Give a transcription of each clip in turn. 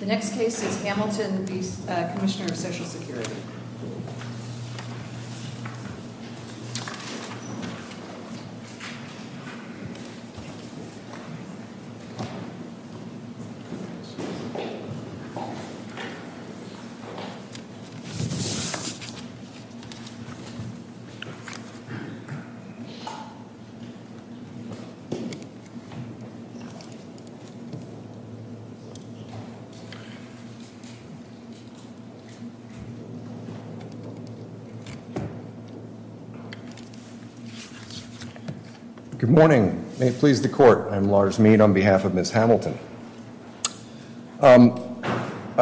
The next case is Hamilton v. Commissioner of Social Security. Good morning. May it please the court. I'm Lars Mead on behalf of Ms. Hamilton. I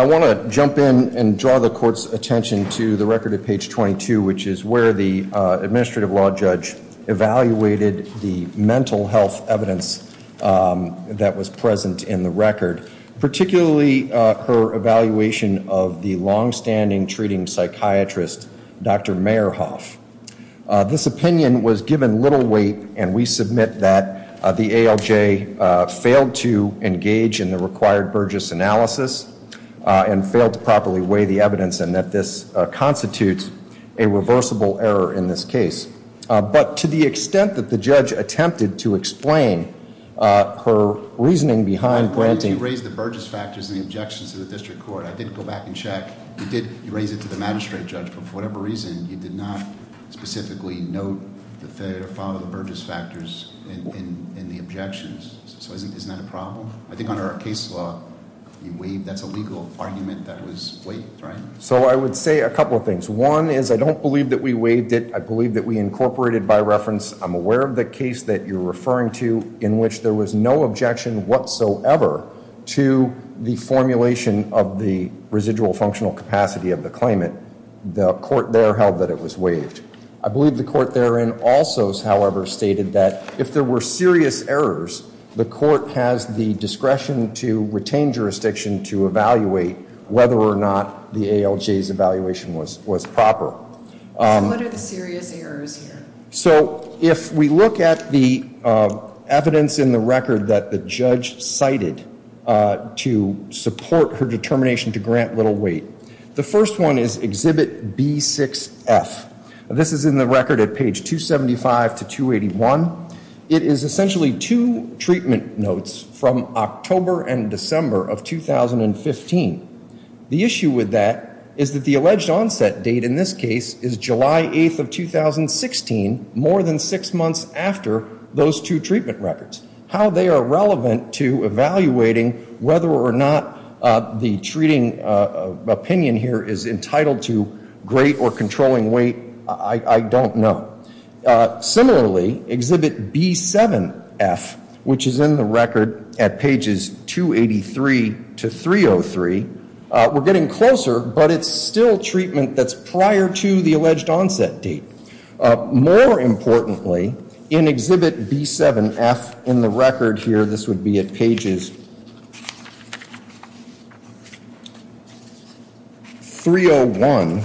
want to jump in and draw the court's attention to the record at page 22, which is where the administrative law judge evaluated the mental health evidence that was present in the record. Particularly her evaluation of the longstanding treating psychiatrist, Dr. Mayerhoff. This opinion was given little weight and we submit that the ALJ failed to engage in the required Burgess analysis and failed to properly weigh the evidence and that this constitutes a reversible error in this case. But to the extent that the judge attempted to explain her reasoning behind granting... You raised the Burgess factors and the objections to the district court. I did go back and check. You did raise it to the magistrate judge, but for whatever reason you did not specifically note the failure to follow the Burgess factors in the objections. So isn't that a problem? I think under our case law, you waived. That's a legal argument that was waived, right? So I would say a couple of things. One is I don't believe that we waived it. I believe that we incorporated by reference. I'm aware of the case that you're referring to in which there was no objection whatsoever to the formulation of the residual functional capacity of the claimant. The court there held that it was waived. I believe the court therein also, however, stated that if there were serious errors, the court has the discretion to retain jurisdiction to evaluate whether or not the ALJ's evaluation was proper. What are the serious errors here? So if we look at the evidence in the record that the judge cited to support her determination to grant little weight, the first one is Exhibit B6F. This is in the record at page 275 to 281. It is essentially two treatment notes from October and December of 2015. The issue with that is that the alleged onset date in this case is July 8th of 2016, more than six months after those two treatment records. How they are relevant to evaluating whether or not the treating opinion here is entitled to great or controlling weight, I don't know. Similarly, Exhibit B7F, which is in the record at pages 283 to 303, we're getting closer, but it's still treatment that's prior to the alleged onset date. More importantly, in Exhibit B7F in the record here, this would be at pages 301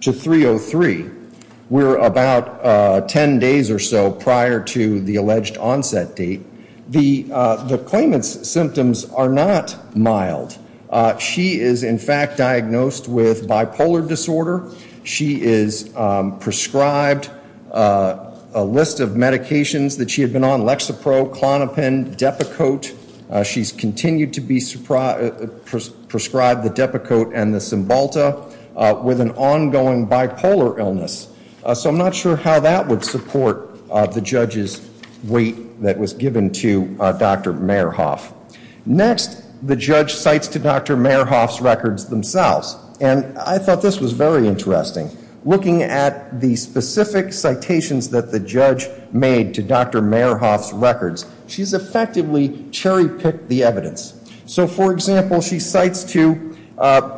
to 303, we're about 10 days or so prior to the alleged onset date. The claimant's symptoms are not mild. She is, in fact, diagnosed with bipolar disorder. She is prescribed a list of medications that she had been on, Lexapro, Klonopin, Depakote. She's continued to be prescribed the Depakote and the Cymbalta with an ongoing bipolar illness. So I'm not sure how that would support the judge's weight that was given to Dr. Mayerhoff. Next, the judge cites to Dr. Mayerhoff's records themselves, and I thought this was very interesting. Looking at the specific citations that the judge made to Dr. Mayerhoff's records, she's effectively cherry-picked the evidence. So, for example, she cites to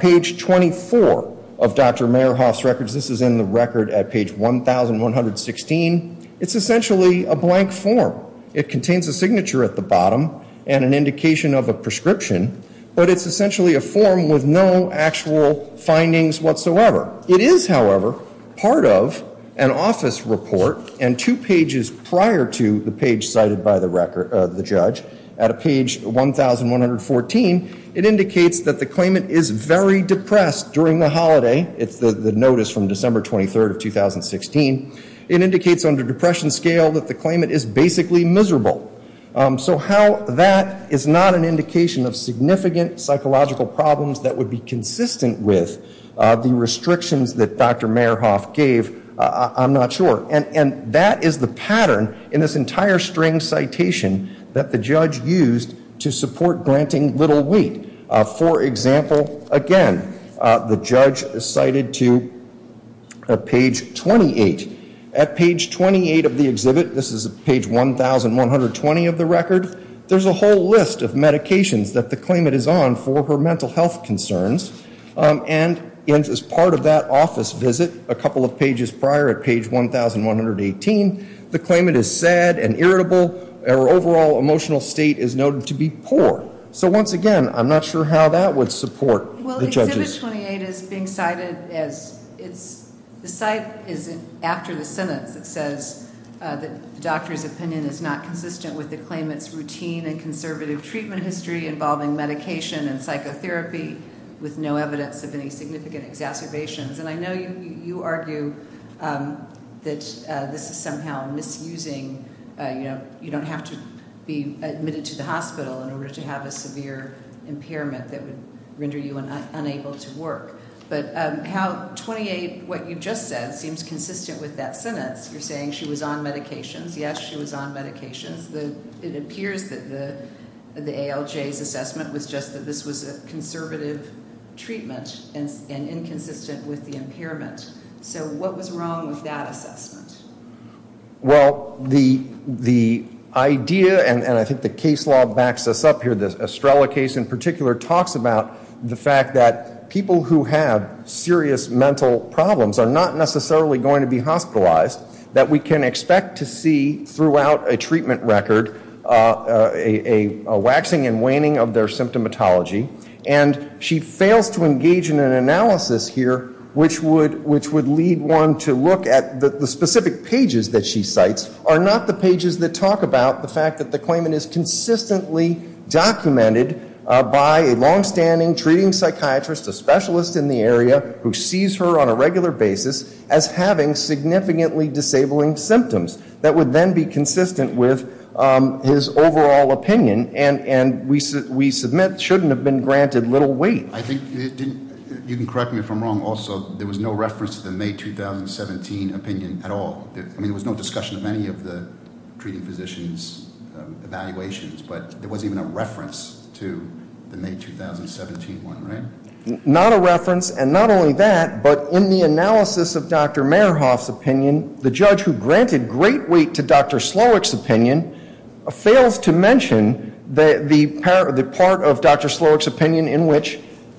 page 24 of Dr. Mayerhoff's records. This is in the record at page 1116. It's essentially a blank form. It contains a signature at the bottom and an indication of a prescription, but it's essentially a form with no actual findings whatsoever. It is, however, part of an office report and two pages prior to the page cited by the judge. At page 1114, it indicates that the claimant is very depressed during the holiday. It's the notice from December 23rd of 2016. It indicates under depression scale that the claimant is basically miserable. So how that is not an indication of significant psychological problems that would be consistent with the restrictions that Dr. Mayerhoff gave, I'm not sure. And that is the pattern in this entire string citation that the judge used to support granting little weight. For example, again, the judge cited to page 28. At page 28 of the exhibit, this is page 1120 of the record, there's a whole list of medications that the claimant is on for her mental health concerns. And as part of that office visit, a couple of pages prior at page 1118, the claimant is sad and irritable. Her overall emotional state is noted to be poor. So once again, I'm not sure how that would support the judges. Well, exhibit 28 is being cited as it's, the site is after the sentence that says that the doctor's opinion is not consistent with the claimant's routine and conservative treatment history involving medication and psychotherapy with no evidence of any significant exacerbations. And I know you argue that this is somehow misusing, you know, you don't have to be admitted to the hospital in order to have a severe impairment that would render you unable to work. But how 28, what you just said, seems consistent with that sentence. You're saying she was on medications. Yes, she was on medications. It appears that the ALJ's assessment was just that this was a conservative treatment and inconsistent with the impairment. So what was wrong with that assessment? Well, the idea, and I think the case law backs this up here, the Estrella case in particular, talks about the fact that people who have serious mental problems are not necessarily going to be hospitalized, that we can expect to see throughout a treatment record a waxing and waning of their symptomatology. And she fails to engage in an analysis here which would lead one to look at the specific pages that she cites are not the pages that talk about the fact that the claimant is consistently documented by a longstanding treating psychiatrist, a specialist in the area who sees her on a regular basis as having significantly disabling symptoms that would then be consistent with his overall opinion. And we submit shouldn't have been granted little weight. I think, you can correct me if I'm wrong also, there was no reference to the May 2017 opinion at all. I mean, there was no discussion of any of the treating physician's evaluations, but there wasn't even a reference to the May 2017 one, right? Not a reference, and not only that, but in the analysis of Dr. Mayerhoff's opinion, the judge who granted great weight to Dr. Slowick's opinion fails to mention the part of Dr. Slowick's opinion in which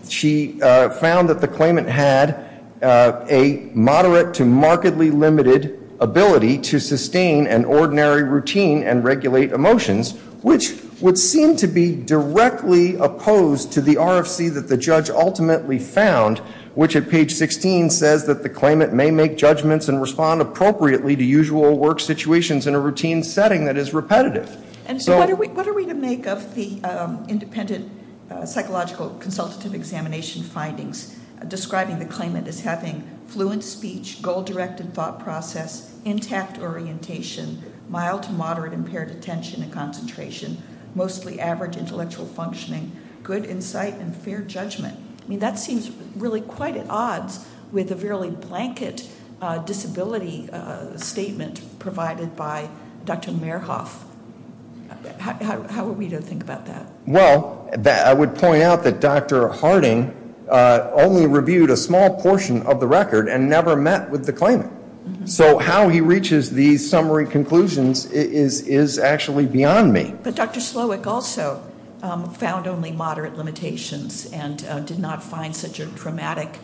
she found that the claimant had a moderate to markedly limited ability to sustain an ordinary routine and regulate emotions, which would seem to be directly opposed to the RFC that the judge ultimately found, which at page 16 says that the claimant may make judgments and respond appropriately to usual work situations in a routine setting that is repetitive. And so what are we to make of the independent psychological consultative examination findings describing the claimant as having fluent speech, goal-directed thought process, intact orientation, mild to moderate impaired attention and concentration, mostly average intellectual functioning, good insight and fair judgment? I mean, that seems really quite at odds with a fairly blanket disability statement provided by Dr. Mayerhoff. How are we to think about that? Well, I would point out that Dr. Harding only reviewed a small portion of the record and never met with the claimant. So how he reaches these summary conclusions is actually beyond me. But Dr. Slowick also found only moderate limitations and did not find such a dramatic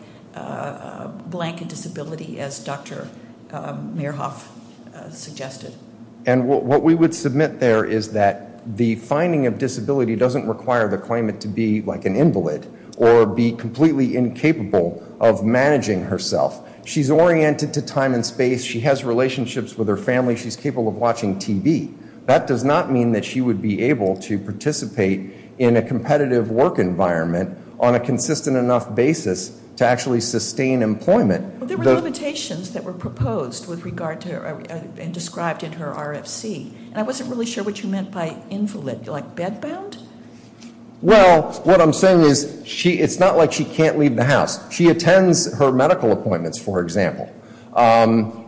blanket disability as Dr. Mayerhoff suggested. And what we would submit there is that the finding of disability doesn't require the claimant to be like an invalid or be completely incapable of managing herself. She's oriented to time and space. She has relationships with her family. She's capable of watching TV. That does not mean that she would be able to participate in a competitive work environment on a consistent enough basis to actually sustain employment. But there were limitations that were proposed with regard to and described in her RFC. And I wasn't really sure what you meant by invalid. Like bedbound? Well, what I'm saying is it's not like she can't leave the house. She attends her medical appointments, for example.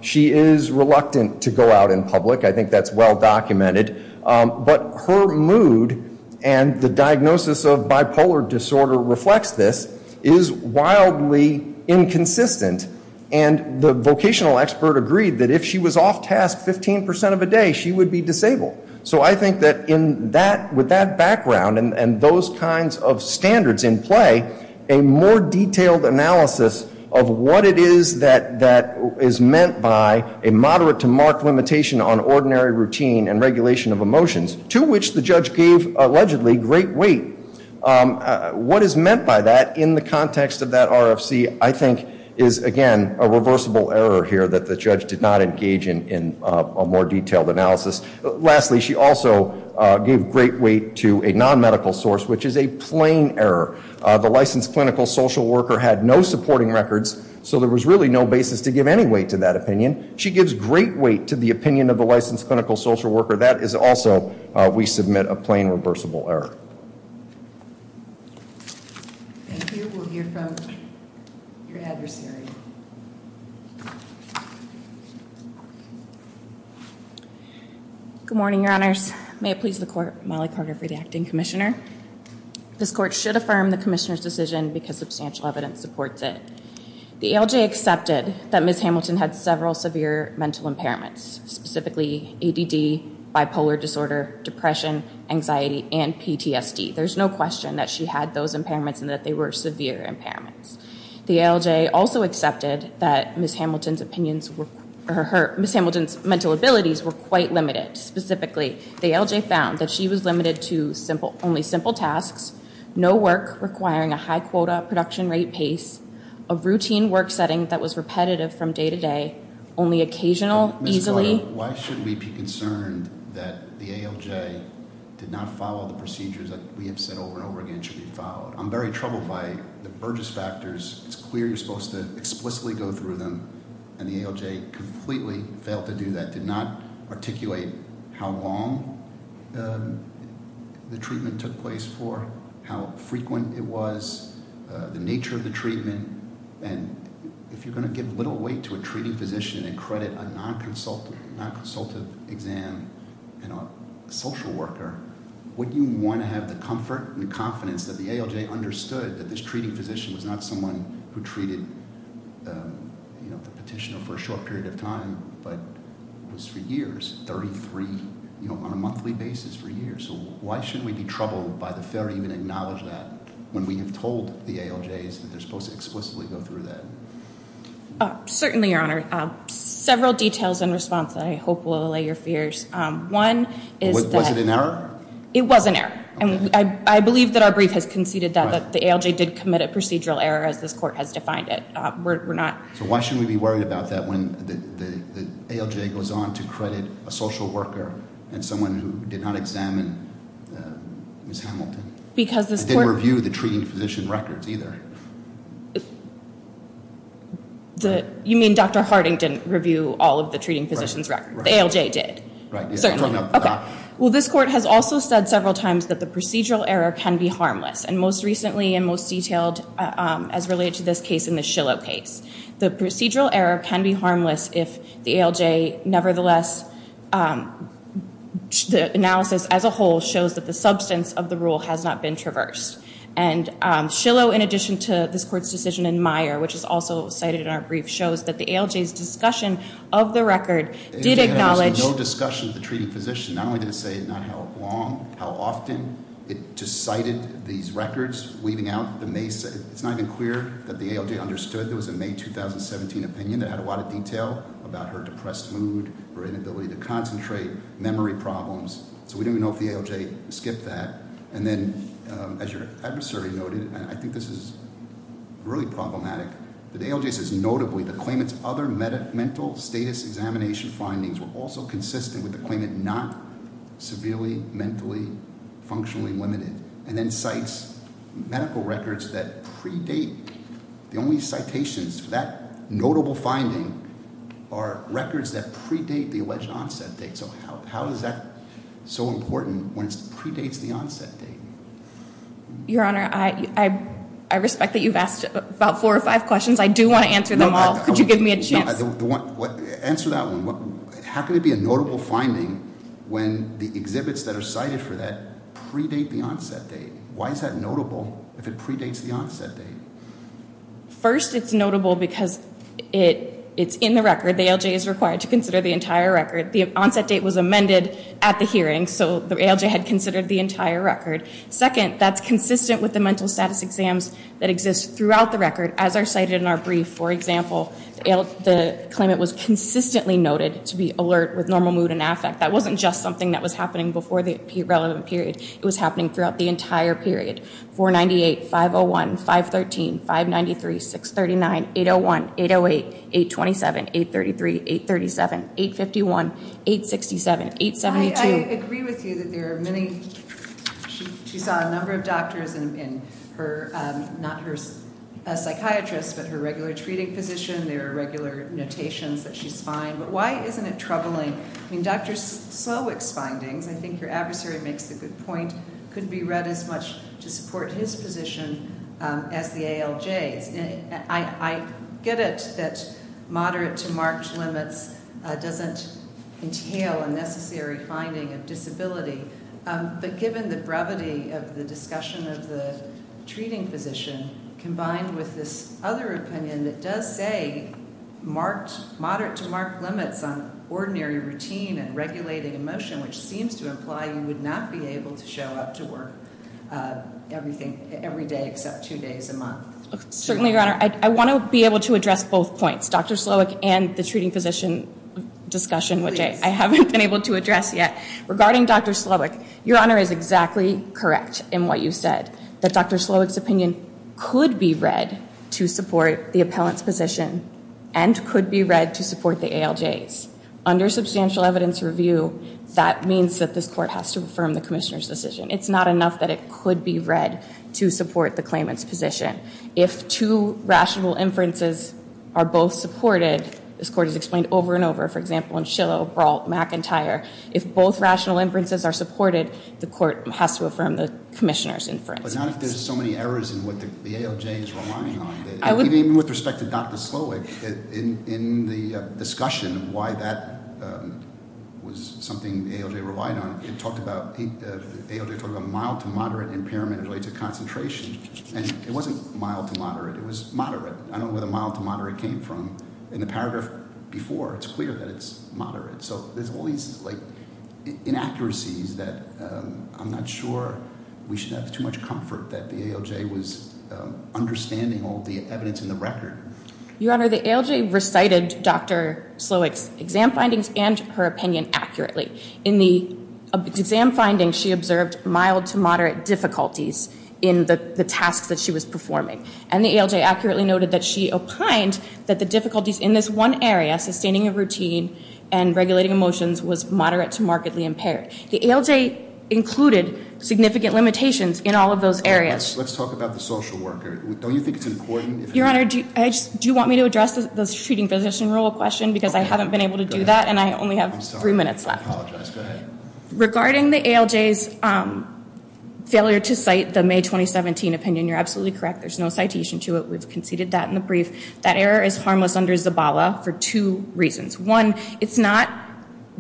She is reluctant to go out in public. I think that's well documented. But her mood and the diagnosis of bipolar disorder reflects this, is wildly inconsistent. And the vocational expert agreed that if she was off task 15% of a day, she would be disabled. So I think that with that background and those kinds of standards in play, a more detailed analysis of what it is that is meant by a moderate to marked limitation on ordinary routine and regulation of emotions, to which the judge gave allegedly great weight. What is meant by that in the context of that RFC I think is, again, a reversible error here that the judge did not engage in a more detailed analysis. Lastly, she also gave great weight to a non-medical source, which is a plain error. The licensed clinical social worker had no supporting records, so there was really no basis to give any weight to that opinion. She gives great weight to the opinion of the licensed clinical social worker. That is also, we submit, a plain reversible error. Thank you. We'll hear from your adversary. Good morning, Your Honors. May it please the Court, Molly Carter for the Acting Commissioner. This Court should affirm the Commissioner's decision because substantial evidence supports it. The ALJ accepted that Ms. Hamilton had several severe mental impairments, specifically ADD, bipolar disorder, depression, anxiety, and PTSD. There's no question that she had those impairments and that they were severe impairments. The ALJ also accepted that Ms. Hamilton's mental abilities were quite limited. Specifically, the ALJ found that she was limited to only simple tasks, no work requiring a high quota production rate pace, a routine work setting that was repetitive from day to day, only occasional, easily. Ms. Carter, why should we be concerned that the ALJ did not follow the procedures that we have said over and over again should be followed? I'm very troubled by the Burgess factors. It's clear you're supposed to explicitly go through them, and the ALJ completely failed to do that, did not articulate how long the treatment took place for, how frequent it was, the nature of the treatment. And if you're going to give little weight to a treating physician and credit a non-consultative exam and a social worker, wouldn't you want to have the comfort and confidence that the ALJ understood that this treating physician was not someone who treated the petitioner for a short period of time, but was for years, 33 on a monthly basis for years. So why shouldn't we be troubled by the failure to even acknowledge that when we have told the ALJs that they're supposed to explicitly go through that? Certainly, Your Honor. Several details in response that I hope will allay your fears. One is that- Was it an error? It was an error. I believe that our brief has conceded that the ALJ did commit a procedural error as this court has defined it. We're not- So why shouldn't we be worried about that when the ALJ goes on to credit a social worker and someone who did not examine Ms. Hamilton? Because this court- Didn't review the treating physician records either. You mean Dr. Harding didn't review all of the treating physician's records? Right. The ALJ did. Right. Okay. Well, this court has also said several times that the procedural error can be harmless, and most recently and most detailed as related to this case in the Shillow case. The procedural error can be harmless if the ALJ nevertheless- the analysis as a whole shows that the substance of the rule has not been traversed. And Shillow, in addition to this court's decision in Meyer, which is also cited in our brief, shows that the ALJ's discussion of the record did acknowledge- The ALJ had no discussion of the treating physician. Not only did it say not how long, how often, it just cited these records, leaving out the May- it's not even clear that the ALJ understood there was a May 2017 opinion that had a lot of detail about her depressed mood, her inability to concentrate, memory problems. So we don't even know if the ALJ skipped that. And then, as your adversary noted, and I think this is really problematic, the ALJ says, notably, the claimant's other mental status examination findings were also consistent with the claimant not severely mentally functionally limited, and then cites medical records that predate. The only citations for that notable finding are records that predate the alleged onset date. So how is that so important when it predates the onset date? Your Honor, I respect that you've asked about four or five questions. I do want to answer them all. Could you give me a chance? Answer that one. How can it be a notable finding when the exhibits that are cited for that predate the onset date? Why is that notable if it predates the onset date? First, it's notable because it's in the record. The ALJ is required to consider the entire record. The onset date was amended at the hearing, so the ALJ had considered the entire record. Second, that's consistent with the mental status exams that exist throughout the record, as are cited in our brief. For example, the claimant was consistently noted to be alert with normal mood and affect. That wasn't just something that was happening before the relevant period. It was happening throughout the entire period. 498, 501, 513, 593, 639, 801, 808, 827, 833, 837, 851, 867, 872. I agree with you that there are many. She saw a number of doctors in her, not her psychiatrist, but her regular treating physician. There are regular notations that she's fine. But why isn't it troubling? I mean, Dr. Slowick's findings, I think your adversary makes a good point, couldn't be read as much to support his position as the ALJ's. I get it that moderate to marked limits doesn't entail a necessary finding of disability. But given the brevity of the discussion of the treating physician, combined with this other opinion that does say moderate to marked limits on ordinary routine and regulating emotion, which seems to imply you would not be able to show up to work every day except two days a month. Certainly, Your Honor. I want to be able to address both points, Dr. Slowick and the treating physician discussion, which I haven't been able to address yet. Regarding Dr. Slowick, Your Honor is exactly correct in what you said, that Dr. Slowick's opinion could be read to support the appellant's position and could be read to support the ALJ's. Under substantial evidence review, that means that this court has to affirm the commissioner's decision. It's not enough that it could be read to support the claimant's position. If two rational inferences are both supported, this court has explained over and over, for example, in Shillow, Brault, McIntyre, if both rational inferences are supported, the court has to affirm the commissioner's inference. But not if there's so many errors in what the ALJ is relying on. Even with respect to Dr. Slowick, in the discussion of why that was something the ALJ relied on, the ALJ talked about mild to moderate impairment related to concentration, and it wasn't mild to moderate. It was moderate. I don't know where the mild to moderate came from. In the paragraph before, it's clear that it's moderate. So there's all these inaccuracies that I'm not sure we should have too much comfort that the ALJ was understanding all the evidence in the record. Your Honor, the ALJ recited Dr. Slowick's exam findings and her opinion accurately. In the exam findings, she observed mild to moderate difficulties in the tasks that she was performing, and the ALJ accurately noted that she opined that the difficulties in this one area, sustaining a routine and regulating emotions, was moderate to markedly impaired. The ALJ included significant limitations in all of those areas. Let's talk about the social worker. Don't you think it's important? Your Honor, do you want me to address the treating physician role question? Because I haven't been able to do that, and I only have three minutes left. I apologize. Go ahead. Regarding the ALJ's failure to cite the May 2017 opinion, you're absolutely correct. There's no citation to it. We've conceded that in the brief. That error is harmless under Zabala for two reasons. One,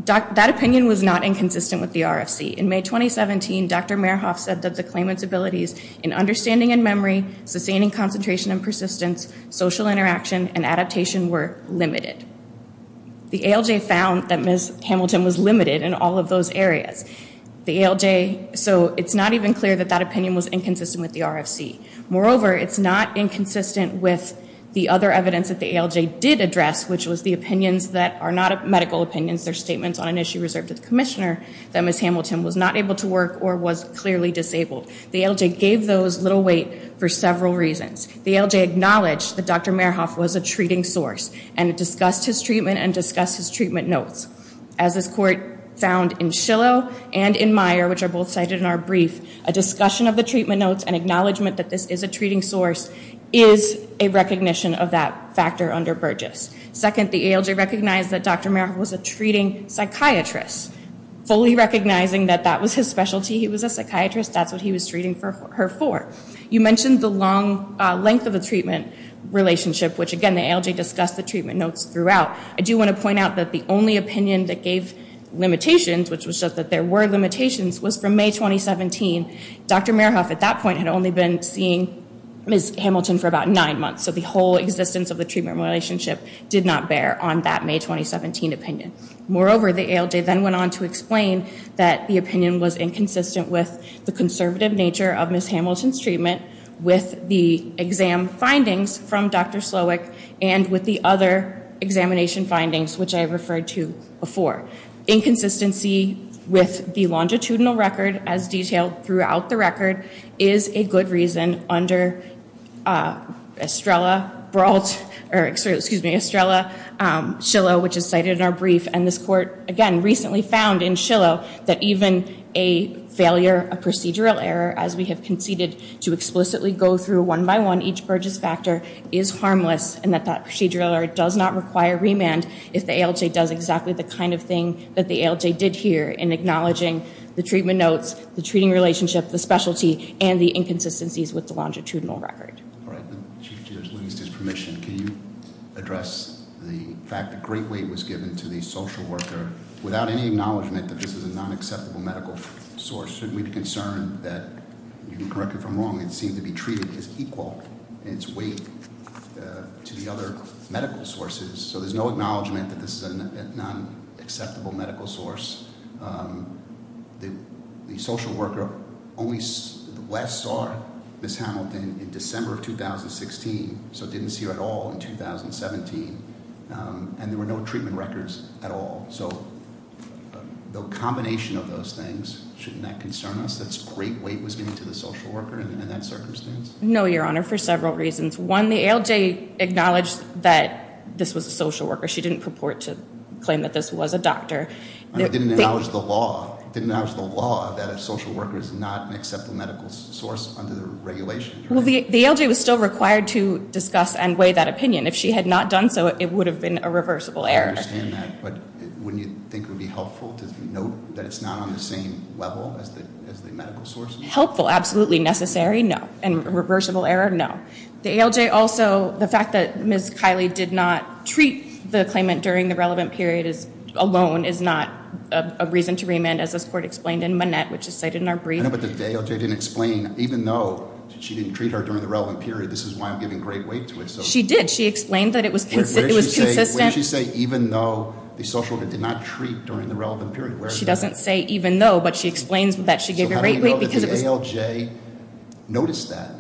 that opinion was not inconsistent with the RFC. In May 2017, Dr. Merhoff said that the claimant's abilities in understanding and memory, sustaining concentration and persistence, social interaction, and adaptation were limited. The ALJ found that Ms. Hamilton was limited in all of those areas. So it's not even clear that that opinion was inconsistent with the RFC. Moreover, it's not inconsistent with the other evidence that the ALJ did address, which was the opinions that are not medical opinions. They're statements on an issue reserved to the commissioner, that Ms. Hamilton was not able to work or was clearly disabled. The ALJ gave those little weight for several reasons. The ALJ acknowledged that Dr. Merhoff was a treating source and discussed his treatment and discussed his treatment notes. As this Court found in Shillow and in Meyer, which are both cited in our brief, a discussion of the treatment notes and acknowledgement that this is a treating source is a recognition of that factor under Burgess. Second, the ALJ recognized that Dr. Merhoff was a treating psychiatrist, fully recognizing that that was his specialty. He was a psychiatrist. That's what he was treating her for. You mentioned the long length of the treatment relationship, which, again, the ALJ discussed the treatment notes throughout. I do want to point out that the only opinion that gave limitations, which was just that there were limitations, was from May 2017. Dr. Merhoff, at that point, had only been seeing Ms. Hamilton for about nine months, so the whole existence of the treatment relationship did not bear on that May 2017 opinion. Moreover, the ALJ then went on to explain that the opinion was inconsistent with the conservative nature of Ms. Hamilton's treatment, with the exam findings from Dr. Slowick, and with the other examination findings, which I referred to before. Inconsistency with the longitudinal record, as detailed throughout the record, is a good reason under Estrella-Shillow, which is cited in our brief. And this court, again, recently found in Shillow that even a failure, a procedural error, as we have conceded to explicitly go through one by one, each Burgess factor is harmless, and that that procedural error does not require remand if the ALJ does exactly the kind of thing that the ALJ did here in acknowledging the treatment notes, the treating relationship, the specialty, and the inconsistencies with the longitudinal record. All right. Chief Judge, with his permission, can you address the fact that great weight was given to the social worker without any acknowledgement that this is a non-acceptable medical source? Shouldn't we be concerned that, you can correct me if I'm wrong, it seemed to be treated as equal in its weight to the other medical sources, so there's no acknowledgement that this is a non-acceptable medical source. The social worker only last saw Ms. Hamilton in December of 2016, so didn't see her at all in 2017, and there were no treatment records at all. So the combination of those things, shouldn't that concern us, that great weight was given to the social worker in that circumstance? No, Your Honor, for several reasons. One, the ALJ acknowledged that this was a social worker. She didn't purport to claim that this was a doctor. It didn't acknowledge the law. It didn't acknowledge the law that a social worker is not an acceptable medical source under the regulations. Well, the ALJ was still required to discuss and weigh that opinion. If she had not done so, it would have been a reversible error. I understand that, but wouldn't you think it would be helpful to note that it's not on the same level as the medical sources? Helpful, absolutely necessary, no. And reversible error, no. The ALJ also, the fact that Ms. Kiley did not treat the claimant during the relevant period alone is not a reason to remand, as this court explained in Monette, which is cited in our brief. I know, but the ALJ didn't explain, even though she didn't treat her during the relevant period, this is why I'm giving great weight to it. She did. She explained that it was consistent. What did she say, even though the social worker did not treat during the relevant period? She doesn't say even though, but she explains that she gave great weight because it was Notice that.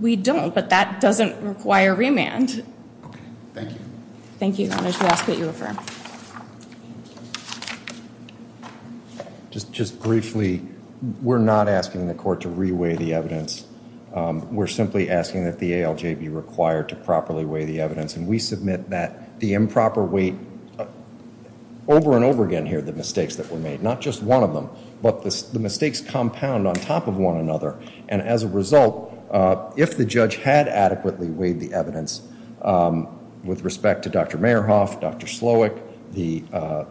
We don't, but that doesn't require remand. Okay, thank you. Thank you. I'm going to ask that you refer. Just briefly, we're not asking the court to re-weigh the evidence. We're simply asking that the ALJ be required to properly weigh the evidence, and we submit that the improper weight over and over again here, the mistakes that were made, not just one of them, but the mistakes compound on top of one another, and as a result, if the judge had adequately weighed the evidence with respect to Dr. Mayerhoff, Dr. Slowick, the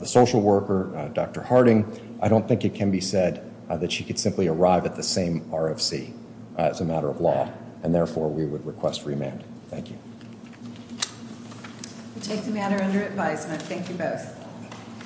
social worker, Dr. Harding, I don't think it can be said that she could simply arrive at the same RFC as a matter of law, and therefore we would request remand. Thank you. We take the matter under advisement. Thank you both.